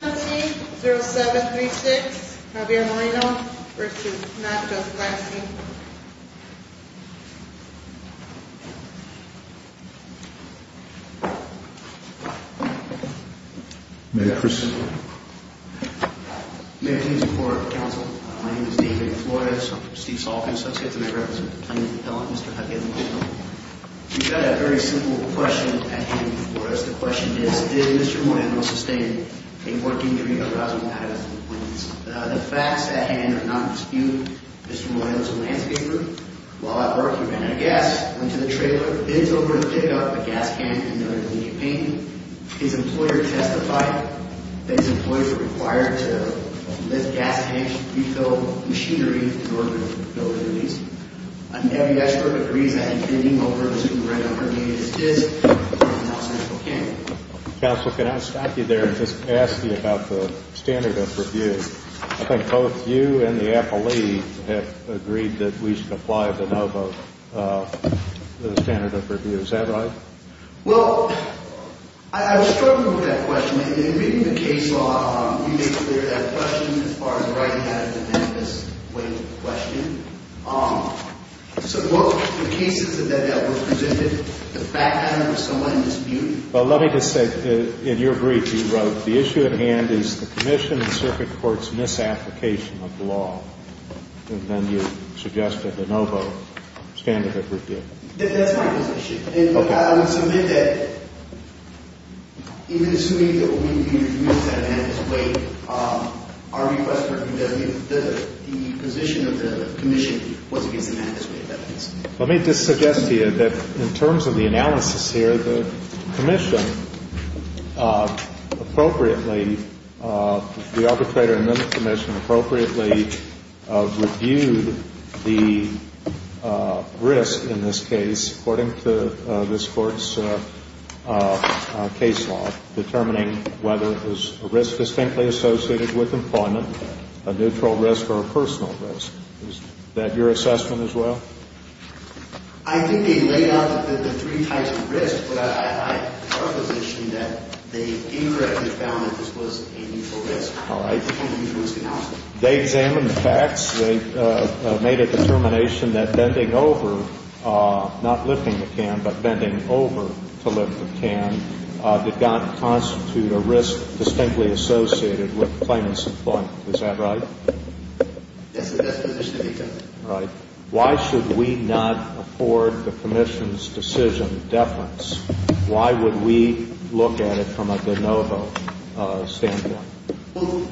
17-0736 Javier Moreno v. Not Just Grass, Inc May I proceed? May I please report, counsel? My name is David Flores. I'm from Steve's office. I'd like to make a reference to the plaintiff's appellant, Mr. Javier Moreno. We've got a very simple question at hand for us. The question is, did Mr. Moreno sustain a work injury arising out of his employment? The facts at hand are not in dispute. Mr. Moreno is a landscaper. While at work, he ran out of gas, went to the trailer, bid over to pick up a gas can in order to leave a painting. His employer testified that his employees were required to lift gas can refill machinery in order to fill their needs. I think every expert agrees. I think Javier Moreno is doing a great job. Counsel, can I stop you there and just ask you about the standard of review? I think both you and the appellee have agreed that we should apply the standard of review. Is that right? Well, I was struggling with that question. In reading the case law, you made clear that question as far as writing out of the manifest way of the question. So both the cases that were presented, the background was somewhat in dispute. Well, let me just say, in your brief, you wrote, the issue at hand is the commission and circuit court's misapplication of the law. And then you suggested a no vote standard of review. That's my position. And I would submit that even assuming that we use that manifest way, our request for review does mean that the position of the commission was against the manifest way of evidence. Let me just suggest to you that in terms of the analysis here, the commission appropriately, the arbitrator and then the commission appropriately reviewed the risk in this case, according to this Court's case law, determining whether it was a risk distinctly associated with employment, a neutral risk or a personal risk. Is that your assessment as well? I think they laid out the three types of risk, but our position that they incorrectly found that this was a neutral risk. All right. They examined the facts. They made a determination that bending over, not lifting the can, but bending over to lift the can did not constitute a risk distinctly associated with claimant's employment. Is that right? That's the position that they took. All right. Why should we not afford the commission's decision deference? Why would we look at it from a de novo standpoint? Well,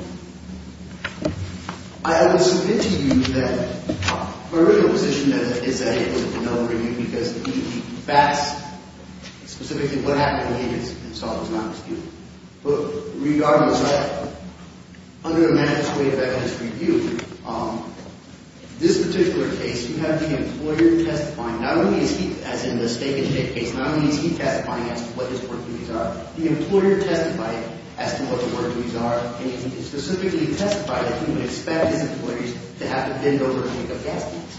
I will submit to you that my original position is that it was a de novo review because the facts, specifically what happened in the case itself, is not disputed. But regardless of that, under the mandatory evidence review, this particular case, you have the employer testifying. Not only is he, as in the stake and shake case, not only is he testifying as to what his work duties are, the employer testified as to what the work duties are. And he specifically testified that he would expect his employers to have to bend over and pick up gas cans.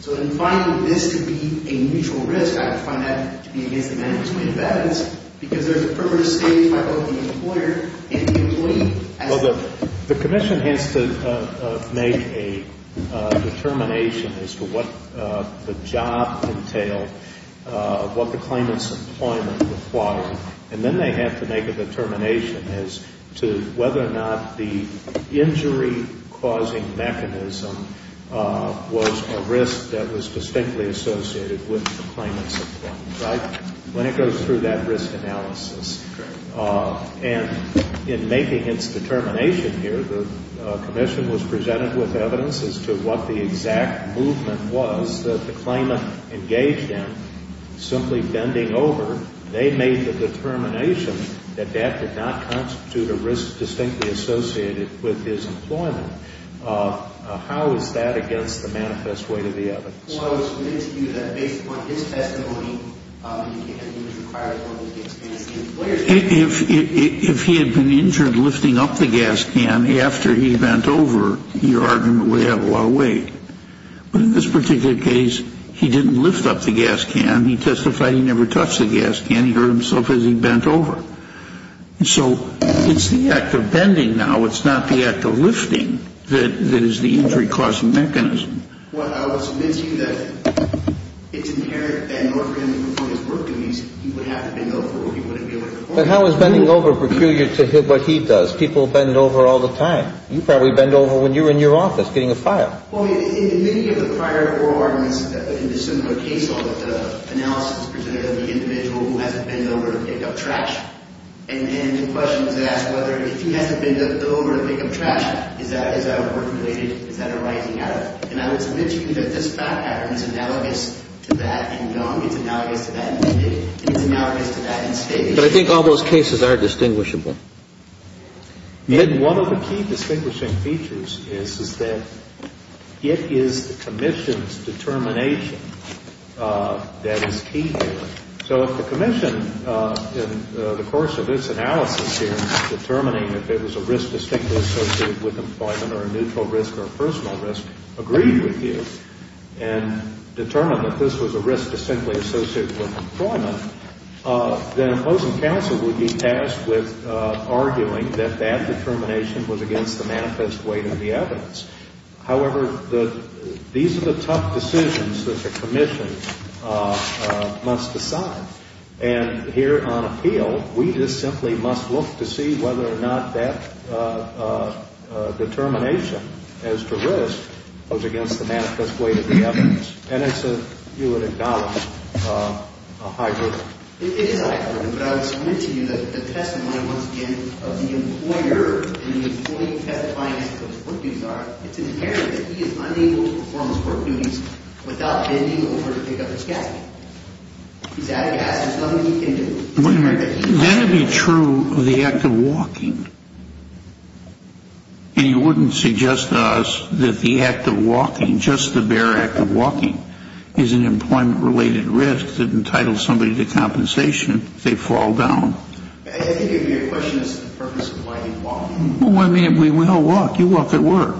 So in finding this to be a mutual risk, I would find that to be against the mandatory evidence because there's a purpose stated by both the employer and the employee. Well, the commission has to make a determination as to what the job entailed, what the claimant's employment required. And then they have to make a determination as to whether or not the injury-causing mechanism was a risk that was distinctly associated with the claimant's employment, right? When it goes through that risk analysis. And in making its determination here, the commission was presented with evidence as to what the exact movement was that the claimant engaged in. Simply bending over, they made the determination that that did not constitute a risk distinctly associated with his employment. How is that against the manifest weight of the evidence? Well, I was willing to do that based upon his testimony. He was required to lift the gas can. If he had been injured lifting up the gas can after he bent over, your argument would have a lot of weight. But in this particular case, he didn't lift up the gas can. He testified he never touched the gas can. He hurt himself as he bent over. So it's the act of bending now. It's not the act of lifting that is the injury-causing mechanism. Well, I would submit to you that it's inherent that in order for him to perform his work duties, he would have to bend over or he wouldn't be able to perform his work duties. But how is bending over peculiar to what he does? People bend over all the time. You probably bend over when you're in your office getting a file. Well, in many of the prior oral arguments in this particular case, all of the analysis was presented of the individual who has to bend over to pick up trash. And then the question was asked whether if he has to bend over to pick up trash, is that work-related? Is that arising out of it? And I would submit to you that this fact pattern is analogous to that in Gunn. It's analogous to that in Biddy. It's analogous to that in State. But I think all those cases are distinguishable. And one of the key distinguishing features is that it is the commission's determination that is key here. So if the commission, in the course of its analysis here, determining if it was a risk distinctly associated with employment or a neutral risk or a personal risk, agreed with you and determined that this was a risk distinctly associated with employment, then an opposing counsel would be tasked with arguing that that determination was against the manifest weight of the evidence. However, these are the tough decisions that the commission must decide. And here on appeal, we just simply must look to see whether or not that determination as to risk was against the manifest weight of the evidence. And I said you would acknowledge a high burden. It is a high burden. But I would submit to you that the testimony, once again, of the employer and the employee testifying as to what his work duties are, it's inherent that he is unable to perform his work duties without bending over to pick up his gasket. He's out of gas. There's nothing he can do. Wait a minute. That would be true of the act of walking. And you wouldn't suggest to us that the act of walking, just the bare act of walking, is an employment-related risk that entitles somebody to compensation if they fall down. I think your question is the purpose of walking. Well, I mean, we all walk. You walk at work.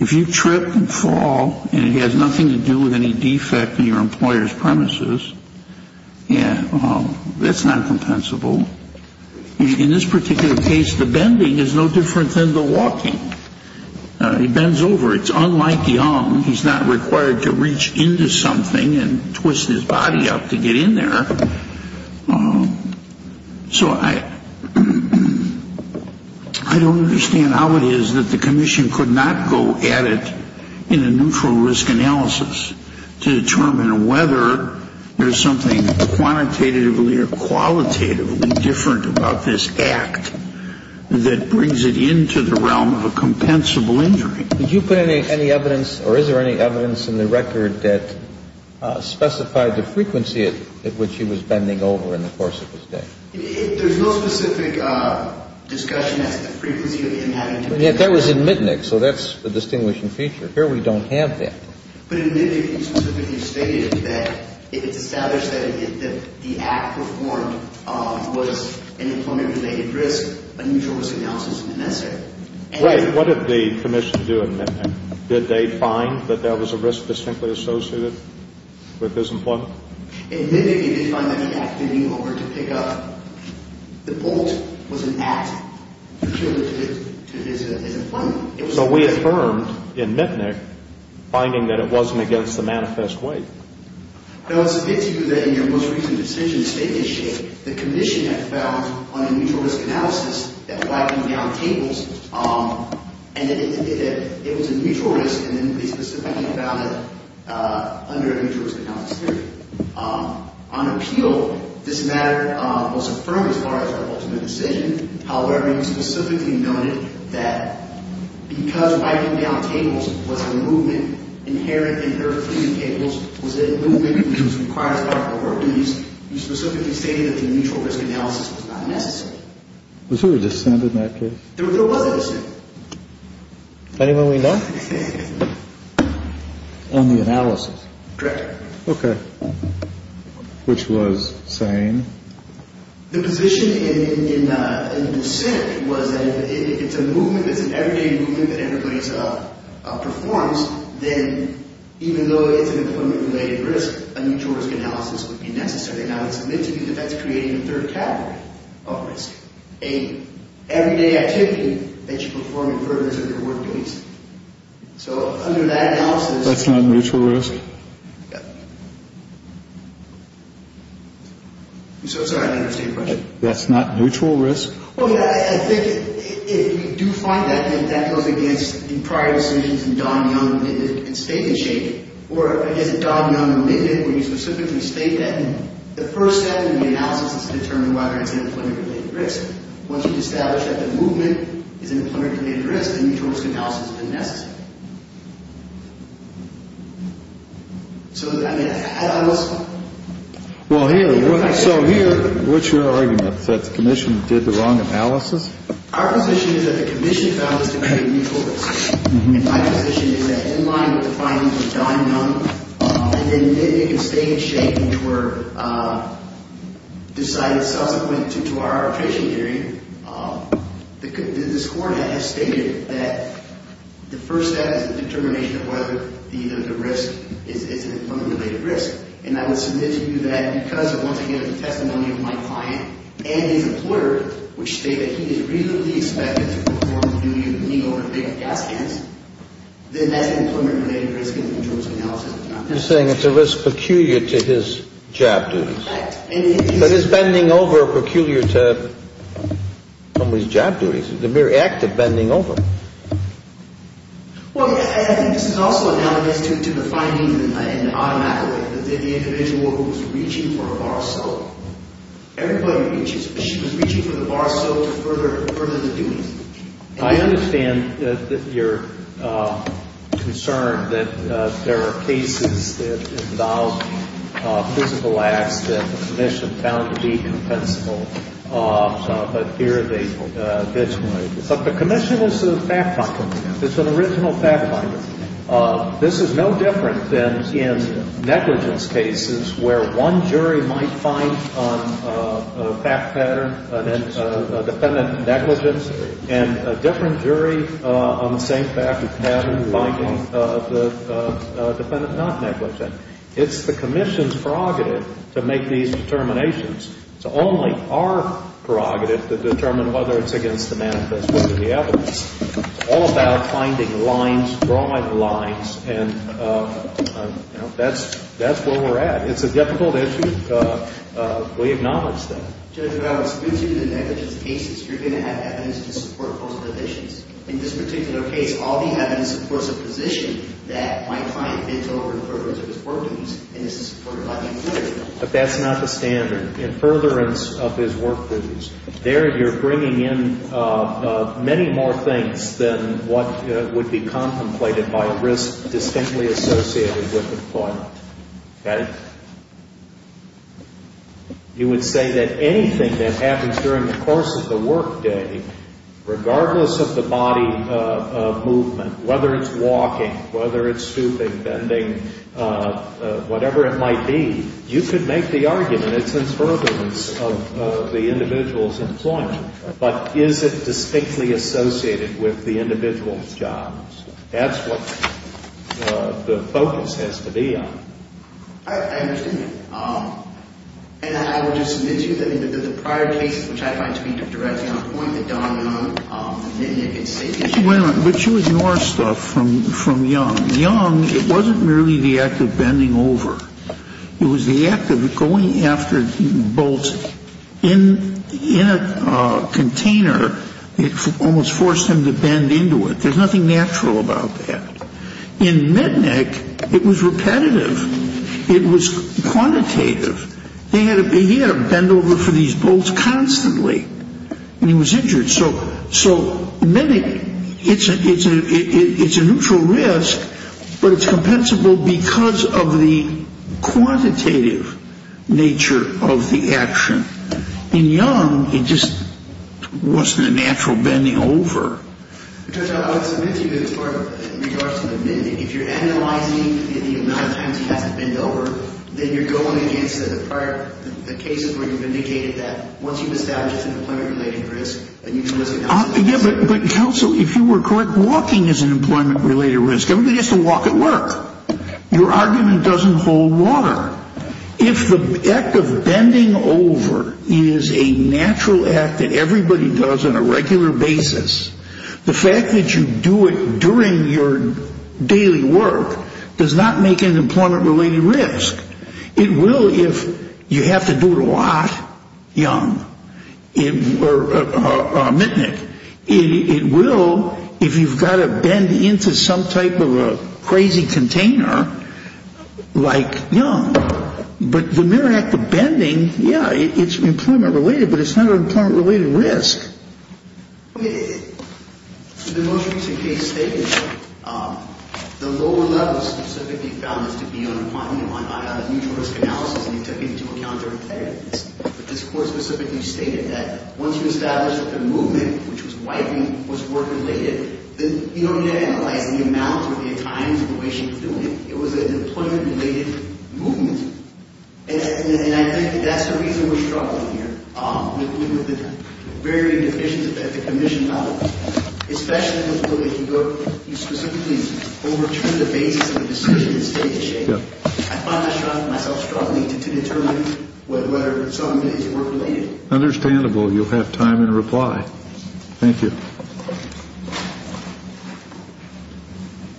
If you trip and fall and it has nothing to do with any defect in your employer's premises, that's not compensable. In this particular case, the bending is no different than the walking. He bends over. It's unlike young. He's not required to reach into something and twist his body up to get in there. So I don't understand how it is that the commission could not go at it in a neutral risk analysis to determine whether there's something quantitatively or qualitatively different about this act that brings it into the realm of a compensable injury. Did you put any evidence, or is there any evidence in the record, that specified the frequency at which he was bending over in the course of his day? There's no specific discussion as to the frequency of the impact. That was in Mitnick, so that's a distinguishing feature. Here we don't have that. But in Mitnick, he specifically stated that if it's established that the act performed was an employment-related risk, a neutral risk analysis is not necessary. Right. What did the commission do in Mitnick? Did they find that there was a risk distinctly associated with his employment? In Mitnick, they did find that the act bending over to pick up the bolt was an act peculiar to his employment. So we affirmed in Mitnick finding that it wasn't against the manifest weight. No, it's good to do that in your most recent decision to state this shape. The commission had found on a neutral risk analysis that whacking down tables, and it was a neutral risk, and then they specifically found it under a neutral risk analysis theory. On appeal, this matter was affirmed as far as our ultimate decision. However, you specifically noted that because whacking down tables was a movement inherent in third-degree tables, was a movement which was required by our authorities, you specifically stated that the neutral risk analysis was not necessary. Was there a dissent in that case? There was a dissent. Anyone we know? On the analysis. Correct. Okay. Which was saying? The position in the dissent was that if it's a movement, if it's an everyday movement that everybody performs, then even though it's an employment-related risk, a neutral risk analysis would be necessary. Now, it's admitted that that's creating a third category of risk, an everyday activity that you perform in purpose of your workplace. So under that analysis... That's not a neutral risk? I'm so sorry. I didn't understand your question. That's not neutral risk? Well, yeah. I think if you do find that, then that goes against the prior decisions in Don Young's statement shape, or, I guess, in Don Young's amendment where you specifically state that the first step in the analysis is to determine whether it's an employment-related risk. Once you've established that the movement is an employment-related risk, a neutral risk analysis is necessary. So, I mean, had I was... Well, here, so here, what's your argument? That the Commission did the wrong analysis? Our position is that the Commission found this to be a neutral risk. My position is that in line with the findings of Don Young, and then it can stay in shape until we're decided subsequent to our appraisal hearing, this coordinate has stated that the first step is the determination of whether the risk is an employment-related risk. And I would submit to you that because, once again, of the testimony of my client and his employer, which state that he is reasonably expected to perform the duty of bending over big gas cans, then that's an employment-related risk in the neutral risk analysis. You're saying it's a risk peculiar to his job duties. Correct. But is bending over peculiar to somebody's job duties? It's a mere act of bending over. Well, I think this is also analogous to the finding in an automatic way that the individual who was reaching for a bar of soap, everybody reaches, but she was reaching for the bar of soap to further the duties. I understand your concern that there are cases that involve physical acts that the Commission found to be compensable, but here they visualize it. But the Commission is a fact finder. It's an original fact finder. This is no different than in negligence cases where one jury might find on a fact pattern, a defendant negligent, and a different jury on the same fact pattern finding the defendant not negligent. It's the Commission's prerogative to make these determinations. It's only our prerogative to determine whether it's against the manifest with the evidence. It's all about finding lines, drawing lines, and that's where we're at. It's a difficult issue. We acknowledge that. Judge Roberts, in the negligence cases, you're going to have evidence to support both positions. In this particular case, all the evidence supports a position that my client bent over in furtherance of his work duties, and this is supported by the authority. But that's not the standard. In furtherance of his work duties, there you're bringing in many more things than what would be contemplated by a risk distinctly associated with employment. Got it? You would say that anything that happens during the course of the work day, regardless of the body of movement, whether it's walking, whether it's stooping, bending, whatever it might be, you could make the argument it's in furtherance of the individual's employment. But is it distinctly associated with the individual's jobs? That's what the focus has to be on. I understand that. And I would just admit to you that in the prior cases, which I find to be directly on point, the Don Young, the Mitnick, it's the issue. Wait a minute. But you ignore stuff from Young. Young, it wasn't merely the act of bending over. It was the act of going after Boltz. In a container, it almost forced him to bend into it. There's nothing natural about that. In Mitnick, it was repetitive. It was quantitative. He had to bend over for these Boltz constantly when he was injured. So in Mitnick, it's a neutral risk, but it's compensable because of the quantitative nature of the action. In Young, it just wasn't a natural bending over. Judge, I would submit to you that in regards to Mitnick, if you're analyzing the amount of times he has to bend over, then you're going against the prior cases where you've indicated that once you've established it's an employment-related risk, that you can risk it. Yeah, but counsel, if you were correct, walking is an employment-related risk. Everybody has to walk at work. Your argument doesn't hold water. If the act of bending over is a natural act that everybody does on a regular basis, the fact that you do it during your daily work does not make it an employment-related risk. It will if you have to do it a lot, Young, or Mitnick. It will if you've got to bend into some type of a crazy container like Young. But the mere act of bending, yeah, it's employment-related, but it's not an employment-related risk. Okay. The most recent case stated that the lower level specifically found this to be an employment- on a neutral risk analysis, and they took into account their effectiveness. But this court specifically stated that once you establish that the movement, which was wiping, was work-related, then you don't need to analyze the amount or the times or the way she was doing it. It was an employment-related movement. And I think that that's the reason we're struggling here. We're dealing with the very deficient at the commission level, especially in the field that you go- you specifically overturn the basis of the decision and state the shame. I find myself struggling to determine whether some of these were related. Understandable. You'll have time in reply. Thank you.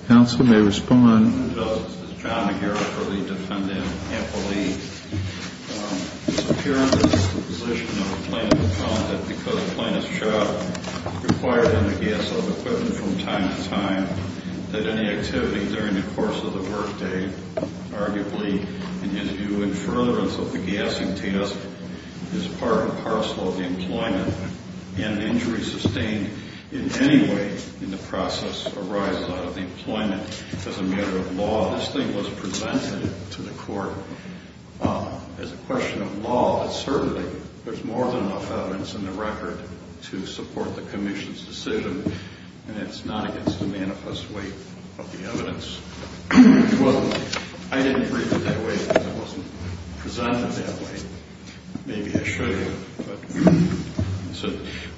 Counsel may respond. My name is John McGarrett for the defendant, Emily. It's apparent that it's the position of the plaintiff that because the plaintiff's job required them to get some equipment from time to time, that any activity during the course of the workday, arguably an interview in furtherance of the gassing test, is part and parcel of the employment, and an injury sustained in any way in the process arises out of the employment. As a matter of law, this thing was presented to the court. As a question of law, certainly there's more than enough evidence in the record to support the commission's decision, and it's not against the manifest weight of the evidence. I didn't read it that way because it wasn't presented that way. Maybe I should have.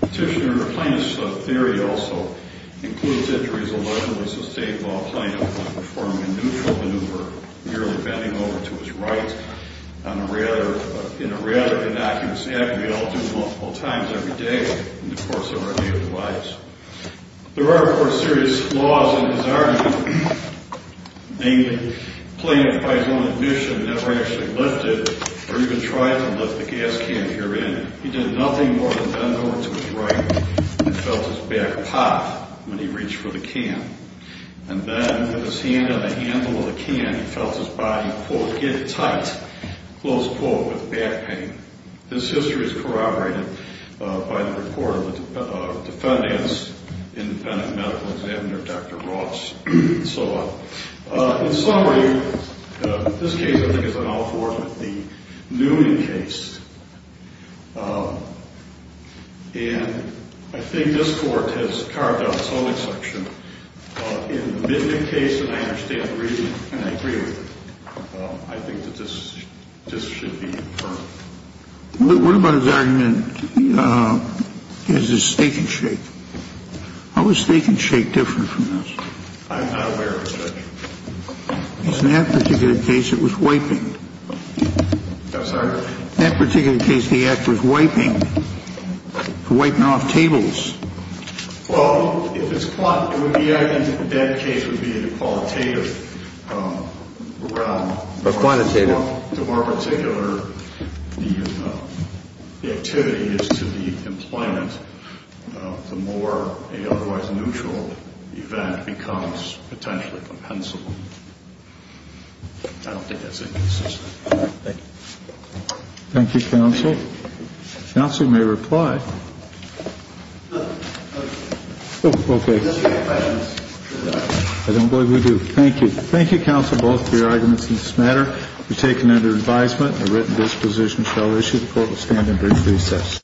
Petitioner's plaintiff's theory also includes injuries allegedly sustained while plaintiff was performing a neutral maneuver, merely bending over to his right in a rather innocuous manner that we all do multiple times every day in the course of our daily lives. There are, of course, serious flaws in his argument. Namely, plaintiff, by his own admission, never actually lifted or even tried to lift the gas can herein. He did nothing more than bend over to his right and felt his back pop when he reached for the can. And then, with his hand on the handle of the can, he felt his body, quote, get tight, close quote, with back pain. This history is corroborated by the report of the defendant's independent medical examiner, Dr. Ross, and so on. In summary, this case, I think, is an outpouring of the Newman case. And I think this court has carved out its own exception. In the Midgett case, and I understand the reasoning, and I agree with it, I think that this should be inferred. What about his argument, his stake and shake? How is stake and shake different from this? I'm not aware of it, Judge. In that particular case, it was wiping. I'm sorry? In that particular case, the act was wiping, wiping off tables. Well, if it's quantity, I think that case would be a qualitative round. A quantitative. The more particular the activity is to the employment, the more a otherwise neutral event becomes potentially compensable. I don't think that's inconsistent. Thank you. Thank you, Counsel. Counsel may reply. Oh, okay. I don't believe we do. Thank you. Thank you, Counsel, both for your arguments in this matter. You're taken under advisement. The written disposition shall issue. The court will stand in brief recess.